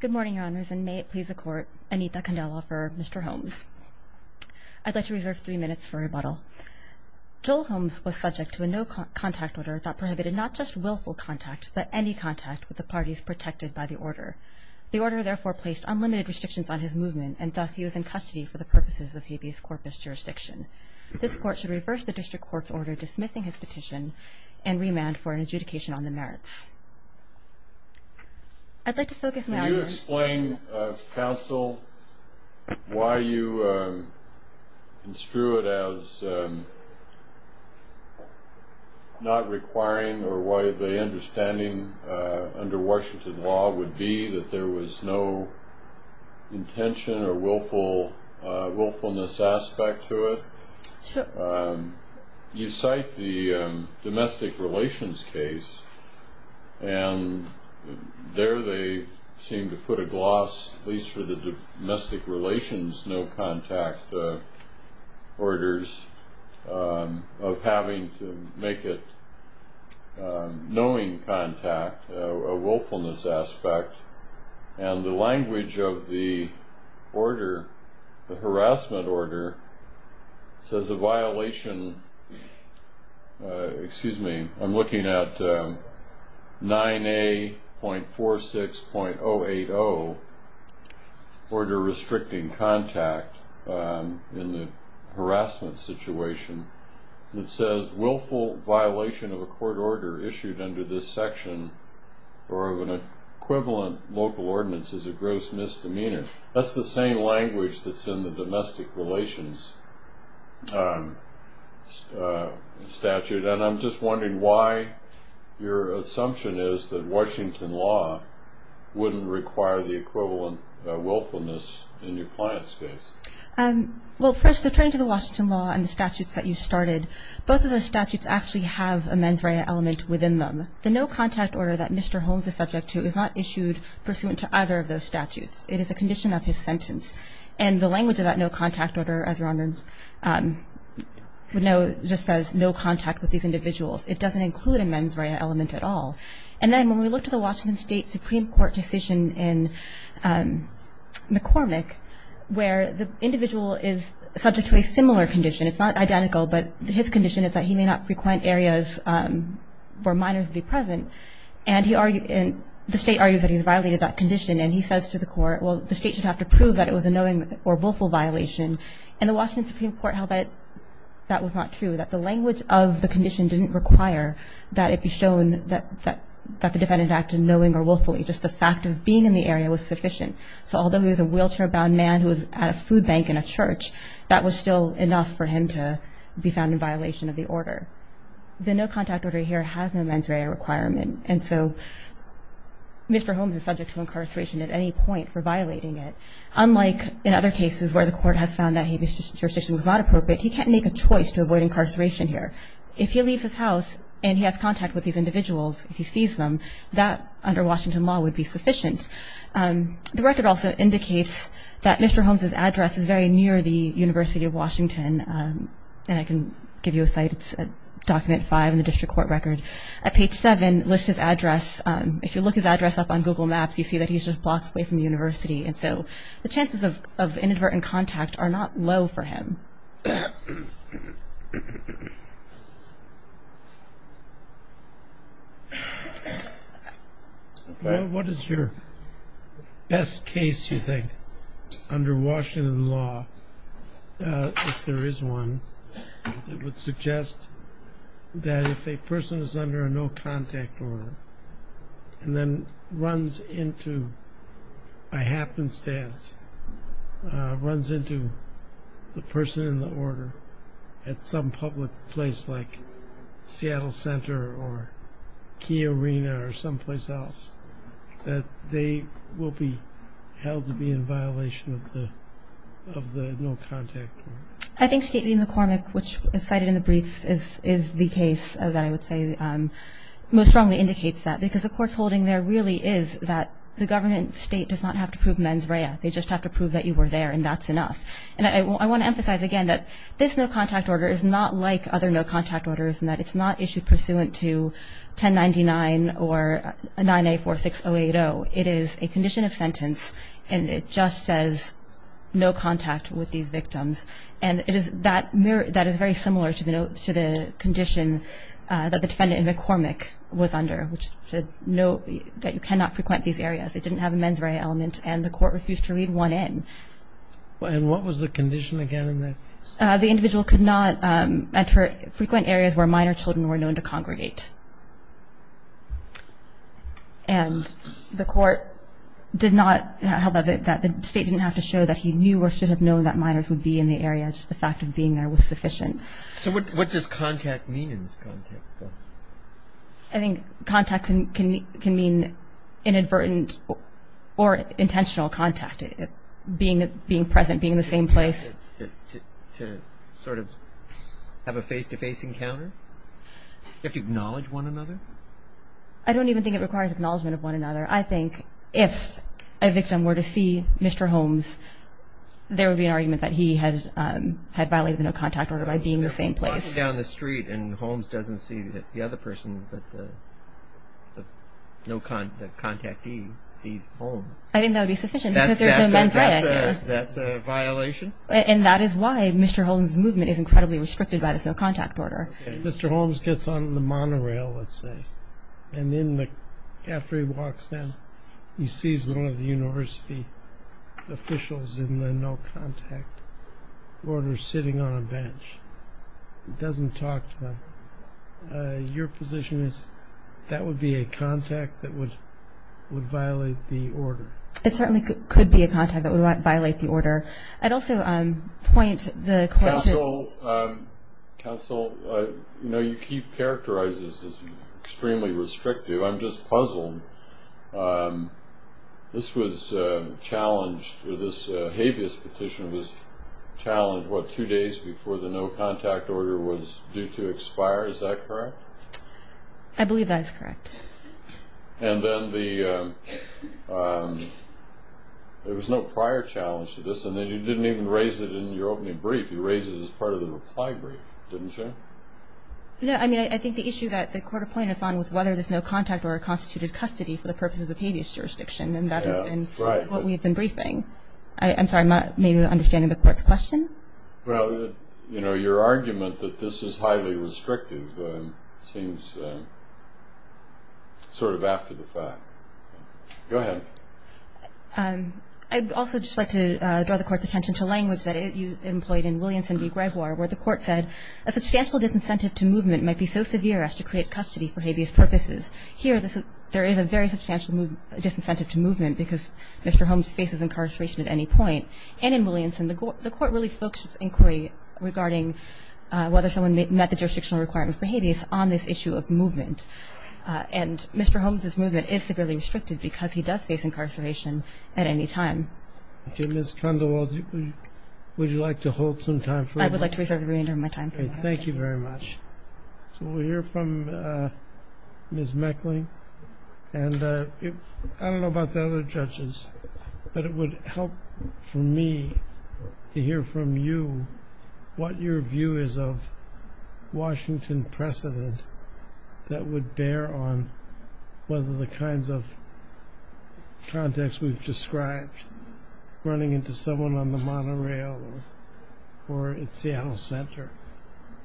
Good morning, Your Honors, and may it please the Court, Anita Candela for Mr. Holmes. I'd like to reserve three minutes for rebuttal. Joel Holmes was subject to a no-contact order that prohibited not just willful contact but any contact with the parties protected by the order. The order therefore placed unlimited restrictions on his movement, and thus he was in custody for the purposes of habeas corpus jurisdiction. This Court should reverse the District Court's order dismissing his petition and remand for an adjudication on the merits. Can you explain, Counsel, why you construe it as not requiring or why the understanding under Washington law would be that there was no intention or willfulness aspect to it? You cite the domestic relations case, and there they seem to put a gloss, at least for the domestic relations no-contact orders, of having to make it knowing contact, a willfulness aspect. And the language of the order, the harassment order, says a violation, excuse me, I'm looking at 9A.46.080, order restricting contact in the harassment situation. It says willful violation of a court order issued under this section or of an equivalent local ordinance is a gross misdemeanor. That's the same language that's in the domestic relations statute. And I'm just wondering why your assumption is that Washington law wouldn't require the equivalent willfulness in your client's case. Well, first, referring to the Washington law and the statutes that you started, both of those statutes actually have a mens rea element within them. The no-contact order that Mr. Holmes is subject to is not issued pursuant to either of those statutes. It is a condition of his sentence. And the language of that no-contact order, as Your Honor would know, just says no contact with these individuals. It doesn't include a mens rea element at all. And then when we looked at the Washington State Supreme Court decision in McCormick, where the individual is subject to a similar condition, it's not identical, but his condition is that he may not frequent areas where minors would be present. And the state argues that he's violated that condition. And he says to the court, well, the state should have to prove that it was a knowing or willful violation. And the Washington Supreme Court held that that was not true, that the language of the condition didn't require that it be shown that the defendant acted knowing or willfully. Just the fact of being in the area was sufficient. So although he was a wheelchair-bound man who was at a food bank in a church, that was still enough for him to be found in violation of the order. The no-contact order here has no mens rea requirement. And so Mr. Holmes is subject to incarceration at any point for violating it. Unlike in other cases where the court has found that his jurisdiction was not appropriate, he can't make a choice to avoid incarceration here. If he leaves his house and he has contact with these individuals, if he sees them, that under Washington law would be sufficient. The record also indicates that Mr. Holmes's address is very near the University of Washington. And I can give you a site. It's at document five in the district court record. At page seven, it lists his address. If you look his address up on Google Maps, you see that he's just blocks away from the university. And so the chances of inadvertent contact are not low for him. What is your best case, you think, under Washington law, if there is one, that would suggest that if a person is under a no-contact order and then runs into a happenstance, runs into the person in the order at some public place like Seattle Center or Key Arena or someplace else, that they will be held to be in violation of the no-contact order? I think State v. McCormick, which is cited in the briefs, is the case that I would say most strongly indicates that because the court's holding there really is that the government state does not have to prove mens rea. They just have to prove that you were there, and that's enough. And I want to emphasize again that this no-contact order is not like other no-contact orders and that it's not issued pursuant to 1099 or 9A46080. It is a condition of sentence, and it just says no contact with these victims. And that is very similar to the condition that the defendant in McCormick was under, which said that you cannot frequent these areas. It didn't have a mens rea element, and the court refused to read one in. And what was the condition again in that case? The individual could not frequent areas where minor children were known to congregate. And the court did not have it that the State didn't have to show that he knew or should have known that minors would be in the area, just the fact of being there was sufficient. So what does contact mean in this context, though? I think contact can mean inadvertent or intentional contact, being present, being in the same place. To sort of have a face-to-face encounter? You have to acknowledge one another? I don't even think it requires acknowledgment of one another. I think if a victim were to see Mr. Holmes, there would be an argument that he had violated the no-contact order by being in the same place. Walking down the street and Holmes doesn't see the other person, but the contactee sees Holmes. I think that would be sufficient because there's no mens rea there. That's a violation? And that is why Mr. Holmes' movement is incredibly restricted by the no-contact order. Mr. Holmes gets on the monorail, let's say, and after he walks in, he sees one of the university officials in the no-contact order sitting on a bench. He doesn't talk to them. Your position is that would be a contact that would violate the order? Counsel, you keep characterizing this as extremely restrictive. I'm just puzzled. This was challenged, or this habeas petition was challenged, what, two days before the no-contact order was due to expire? I believe that is correct. And then there was no prior challenge to this, and then you didn't even raise it in your opening brief. You raised it as part of the reply brief, didn't you? No, I mean, I think the issue that the court appointed us on was whether there's no contact or a constituted custody for the purposes of habeas jurisdiction, and that has been what we've been briefing. I'm sorry, maybe not understanding the court's question. Well, you know, your argument that this is highly restrictive seems sort of after the fact. Go ahead. I'd also just like to draw the court's attention to language that you employed in Williamson v. Gregoire, where the court said, a substantial disincentive to movement might be so severe as to create custody for habeas purposes. Here, there is a very substantial disincentive to movement because Mr. Holmes faces incarceration at any point. And in Williamson, the court really focused its inquiry regarding whether someone met the jurisdictional requirement for habeas on this issue of movement. And Mr. Holmes' movement is severely restricted because he does face incarceration at any time. Okay, Ms. Condoleezza, would you like to hold some time for that? I would like to reserve the remainder of my time for that. Thank you very much. So we'll hear from Ms. Meckling, and I don't know about the other judges, but it would help for me to hear from you what your view is of Washington precedent that would bear on whether the kinds of context we've described, running into someone on the monorail or at Seattle Center,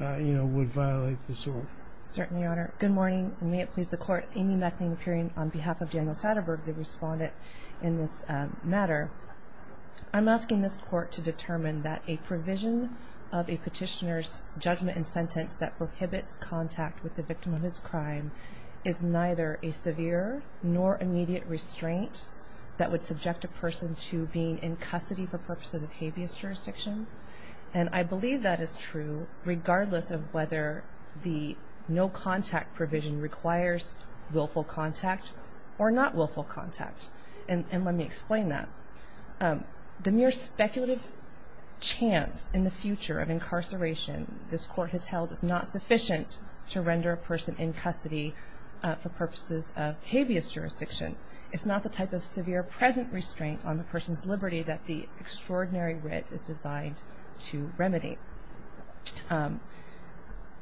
you know, would violate this order. Certainly, Your Honor. Good morning, and may it please the Court. Amy Meckling appearing on behalf of Daniel Satterberg. The respondent in this matter. I'm asking this Court to determine that a provision of a petitioner's judgment and sentence that prohibits contact with the victim of his crime is neither a severe nor immediate restraint that would subject a person to being in custody for purposes of habeas jurisdiction. And I believe that is true regardless of whether the no-contact provision requires willful contact or not willful contact, and let me explain that. The mere speculative chance in the future of incarceration this Court has held is not sufficient to render a person in custody for purposes of habeas jurisdiction. It's not the type of severe present restraint on the person's liberty that the extraordinary writ is designed to remedy.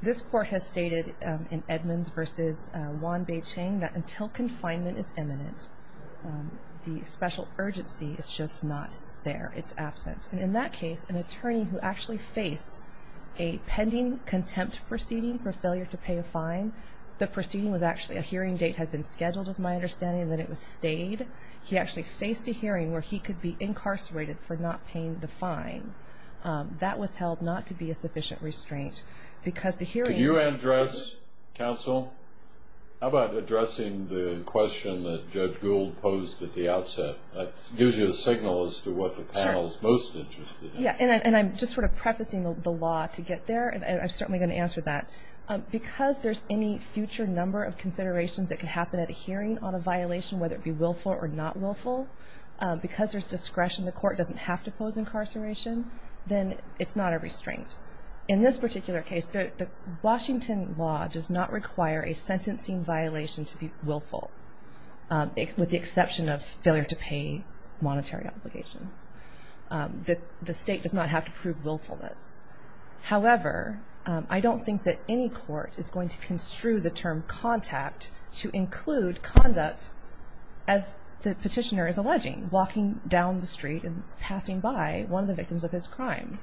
This Court has stated in Edmonds v. Wan-Bai-Cheng that until confinement is imminent, the special urgency is just not there. It's absent. And in that case, an attorney who actually faced a pending contempt proceeding for failure to pay a fine, the proceeding was actually a hearing date had been scheduled, is my understanding, and then it was stayed. He actually faced a hearing where he could be incarcerated for not paying the fine. That was held not to be a sufficient restraint because the hearing was not sufficient. Could you address, counsel, how about addressing the question that Judge Gould posed at the outset? That gives you a signal as to what the panel is most interested in. And I'm just sort of prefacing the law to get there, and I'm certainly going to answer that. Because there's any future number of considerations that can happen at a hearing on a violation, whether it be willful or not willful, because there's discretion, the court doesn't have to pose incarceration, then it's not a restraint. In this particular case, the Washington law does not require a sentencing violation to be willful, with the exception of failure to pay monetary obligations. The state does not have to prove willfulness. However, I don't think that any court is going to construe the term contact to include conduct as the petitioner is alleging, walking down the street and passing by one of the victims of his crime.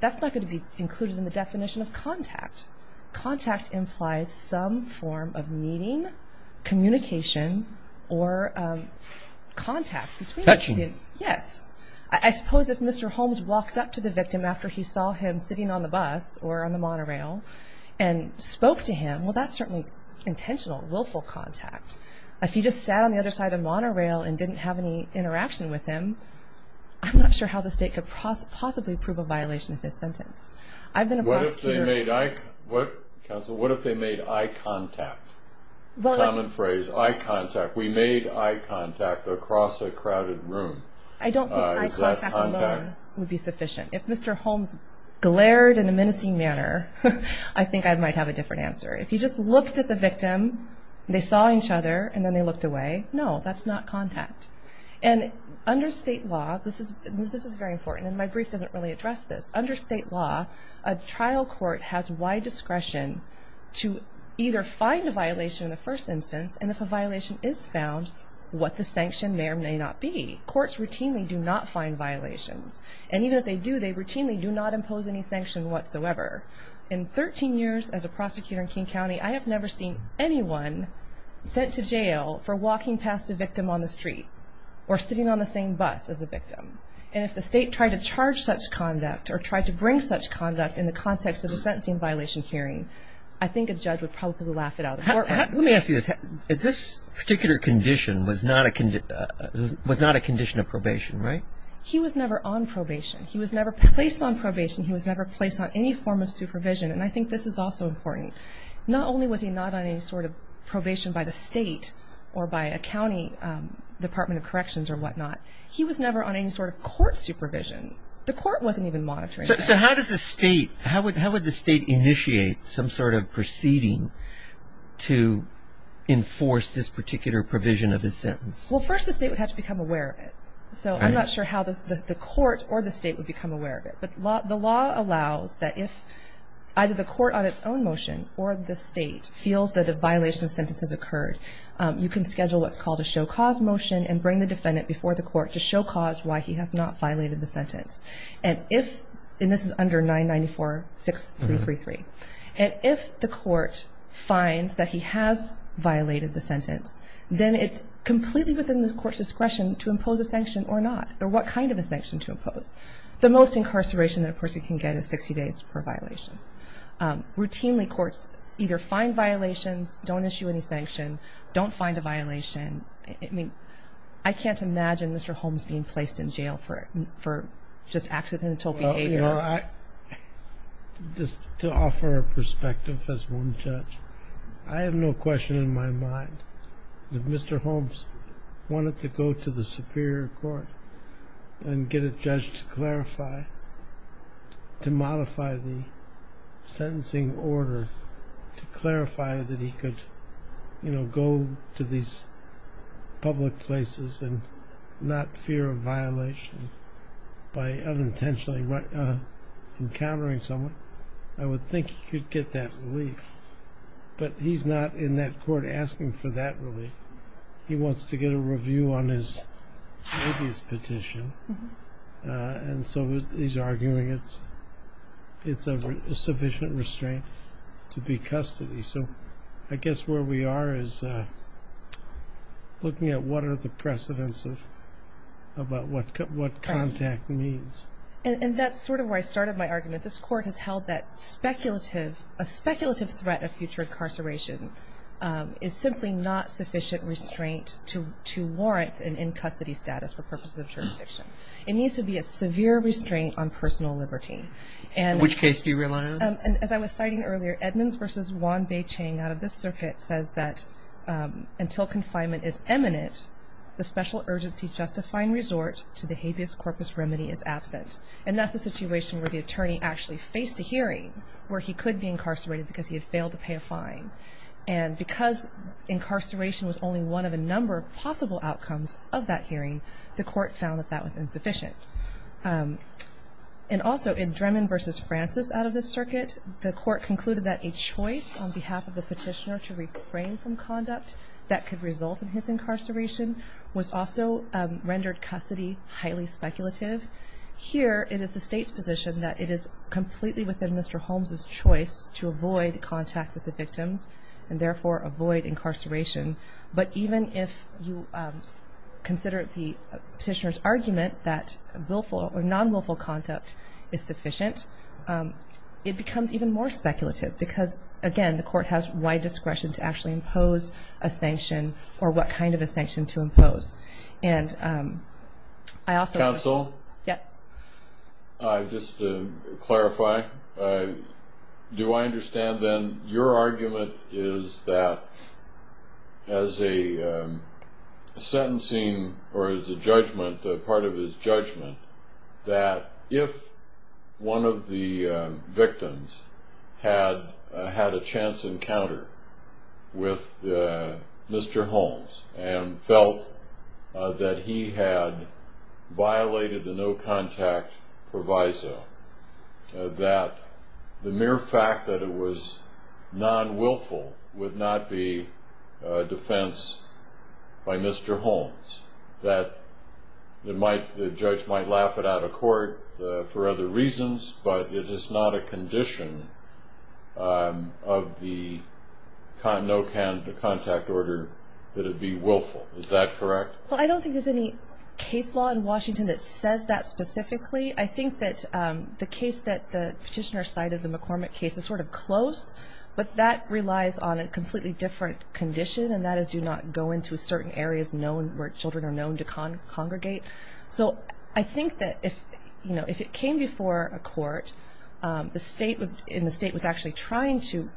That's not going to be included in the definition of contact. Contact implies some form of meeting, communication, or contact. Touching. Yes. I suppose if Mr. Holmes walked up to the victim after he saw him sitting on the bus or on the monorail and spoke to him, well, that's certainly intentional, willful contact. If he just sat on the other side of the monorail and didn't have any interaction with him, I'm not sure how the state could possibly prove a violation of his sentence. What if they made eye contact? Common phrase, eye contact. We made eye contact across a crowded room. I don't think eye contact alone would be sufficient. If Mr. Holmes glared in a menacing manner, I think I might have a different answer. If he just looked at the victim, they saw each other, and then they looked away, no, that's not contact. And under state law, this is very important, and my brief doesn't really address this. Under state law, a trial court has wide discretion to either find a violation in the first instance, and if a violation is found, what the sanction may or may not be. Courts routinely do not find violations. And even if they do, they routinely do not impose any sanction whatsoever. In 13 years as a prosecutor in King County, I have never seen anyone sent to jail for walking past a victim on the street or sitting on the same bus as a victim. And if the state tried to charge such conduct or tried to bring such conduct in the context of a sentencing violation hearing, I think a judge would probably laugh it out of the courtroom. Let me ask you this. This particular condition was not a condition of probation, right? He was never on probation. He was never placed on probation. He was never placed on any form of supervision. And I think this is also important. Not only was he not on any sort of probation by the state or by a county department of corrections or whatnot, he was never on any sort of court supervision. The court wasn't even monitoring that. So how does the state, how would the state initiate some sort of proceeding to enforce this particular provision of his sentence? Well, first the state would have to become aware of it. So I'm not sure how the court or the state would become aware of it. But the law allows that if either the court on its own motion or the state feels that a violation of sentence has occurred, you can schedule what's called a show cause motion and bring the defendant before the court to show cause why he has not violated the sentence. And if, and this is under 994-6333, and if the court finds that he has violated the sentence, then it's completely within the court's discretion to impose a sanction or not, or what kind of a sanction to impose. The most incarceration that a person can get is 60 days per violation. Routinely courts either find violations, don't issue any sanction, don't find a violation. I mean, I can't imagine Mr. Holmes being placed in jail for just accidental behavior. Well, I, just to offer a perspective as one judge, I have no question in my mind that Mr. Holmes wanted to go to the superior court and get a judge to clarify, to modify the sentencing order to clarify that he could, you know, go to these public places and not fear a violation by unintentionally encountering someone. I would think he could get that relief. But he's not in that court asking for that relief. He wants to get a review on his habeas petition. And so he's arguing it's a sufficient restraint to be custody. So I guess where we are is looking at what are the precedents of what contact means. And that's sort of where I started my argument. This court has held that a speculative threat of future incarceration is simply not sufficient restraint to warrant an in-custody status for purposes of jurisdiction. It needs to be a severe restraint on personal liberty. Which case do you rely on? As I was citing earlier, Edmonds v. Wan-Bae Ching out of this circuit says that until confinement is eminent, the special urgency justifying resort to the habeas corpus remedy is absent. And that's a situation where the attorney actually faced a hearing where he could be incarcerated because he had failed to pay a fine. And because incarceration was only one of a number of possible outcomes of that hearing, the court found that that was insufficient. And also in Dremen v. Francis out of this circuit, the court concluded that a choice on behalf of the petitioner to refrain from conduct that could result in his incarceration was also rendered custody highly speculative. Here it is the state's position that it is completely within Mr. Holmes' choice to avoid contact with the victims and therefore avoid incarceration. But even if you consider the petitioner's argument that willful or non-willful conduct is sufficient, it becomes even more speculative because, again, the court has wide discretion to actually impose a sanction or what kind of a sanction to impose. And I also- Counsel? Yes. Just to clarify, do I understand then your argument is that as a sentencing or as a judgment, part of his judgment, that if one of the victims had had a chance encounter with Mr. Holmes and felt that he had violated the no contact proviso, that the mere fact that it was non-willful would not be a defense by Mr. Holmes? That the judge might laugh it out of court for other reasons, but it is not a condition of the no contact order that it be willful. Is that correct? Well, I don't think there's any case law in Washington that says that specifically. I think that the case that the petitioner cited, the McCormick case, is sort of close, but that relies on a completely different condition, and that is do not go into certain areas known where children are known to congregate. So I think that if it came before a court and the state was actually trying to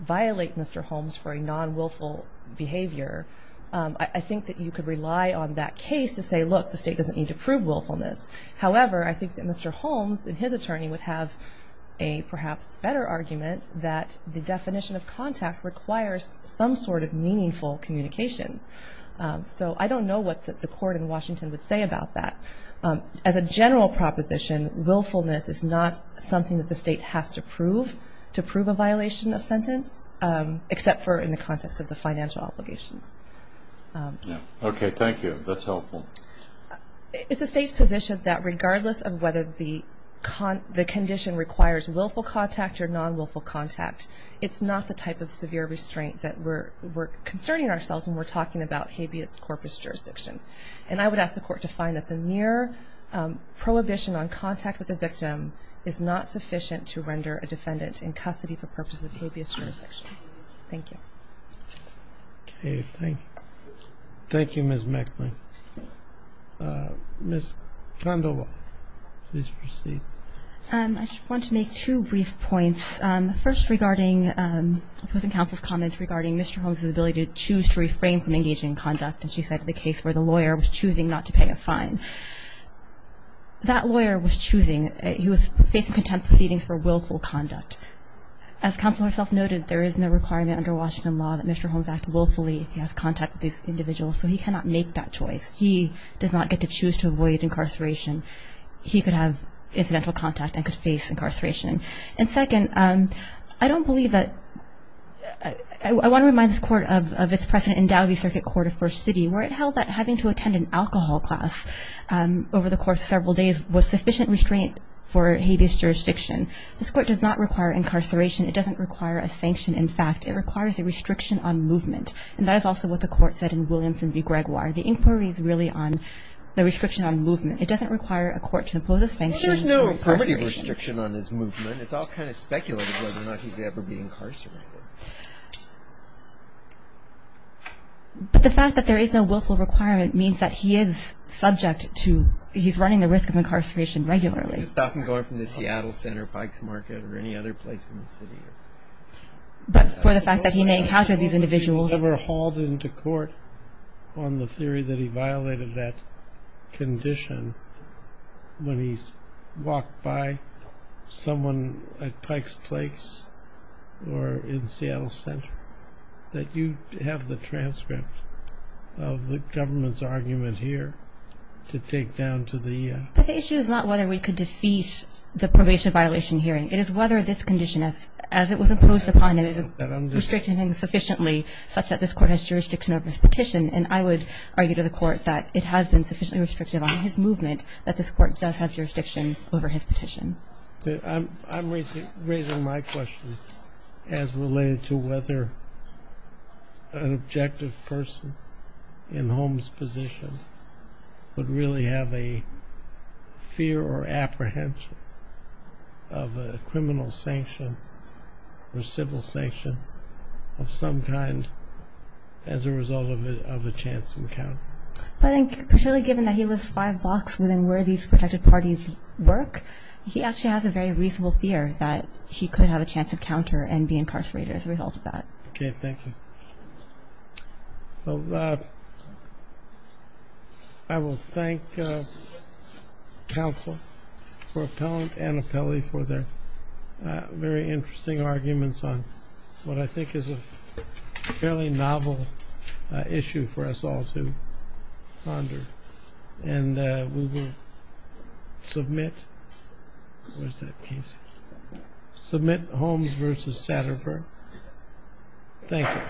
violate Mr. Holmes for a non-willful behavior, I think that you could rely on that case to say, look, the state doesn't need to prove willfulness. However, I think that Mr. Holmes and his attorney would have a perhaps better argument that the definition of contact requires some sort of meaningful communication. So I don't know what the court in Washington would say about that. As a general proposition, willfulness is not something that the state has to prove to prove a violation of sentence, except for in the context of the financial obligations. Okay, thank you. That's helpful. It's the state's position that regardless of whether the condition requires willful contact or non-willful contact, it's not the type of severe restraint that we're concerning ourselves when we're talking about habeas corpus jurisdiction. And I would ask the court to find that the mere prohibition on contact with the victim is not sufficient to render a defendant in custody for purposes of habeas jurisdiction. Thank you. Okay, thank you. Thank you, Ms. Mecklen. Ms. Condola, please proceed. I just want to make two brief points. First, regarding opposing counsel's comments regarding Mr. Holmes' ability to choose to reframe from engaging in conduct, as you said in the case where the lawyer was choosing not to pay a fine. That lawyer was choosing. He was facing contempt proceedings for willful conduct. As counsel herself noted, there is no requirement under Washington law that Mr. Holmes act willfully if he has contact with these individuals, so he cannot make that choice. He does not get to choose to avoid incarceration. He could have incidental contact and could face incarceration. And second, I don't believe that – I want to remind this Court of its precedent in Dowdy Circuit Court of First City where it held that having to attend an alcohol class over the course of several days was sufficient restraint for habeas jurisdiction. This Court does not require incarceration. It doesn't require a sanction. In fact, it requires a restriction on movement. And that is also what the Court said in Williamson v. Gregoire. The inquiry is really on the restriction on movement. It doesn't require a court to impose a sanction on incarceration. There's no restriction on his movement. It's all kind of speculated whether or not he would ever be incarcerated. But the fact that there is no willful requirement means that he is subject to – he's running the risk of incarceration regularly. He's not going from the Seattle Center, Pike's Market, or any other place in the city. But for the fact that he may encounter these individuals – On the theory that he violated that condition when he's walked by someone at Pike's Place or in Seattle Center, that you have the transcript of the government's argument here to take down to the – But the issue is not whether we could defeat the probation violation hearing. It is whether this condition, as it was imposed upon him, is restricted to him sufficiently such that this Court has jurisdiction over his petition. And I would argue to the Court that it has been sufficiently restricted on his movement that this Court does have jurisdiction over his petition. I'm raising my question as related to whether an objective person in Holmes' position would really have a fear or apprehension of a criminal sanction or civil sanction of some kind as a result of a chance encounter. I think, particularly given that he was five blocks within where these protected parties work, he actually has a very reasonable fear that he could have a chance encounter and be incarcerated as a result of that. Okay, thank you. Well, I will thank counsel for appellant and appellee for their very interesting arguments on what I think is a fairly novel issue for us all to ponder. And we will submit – where's that piece? Submit Holmes v. Satterthwaite. Thank you.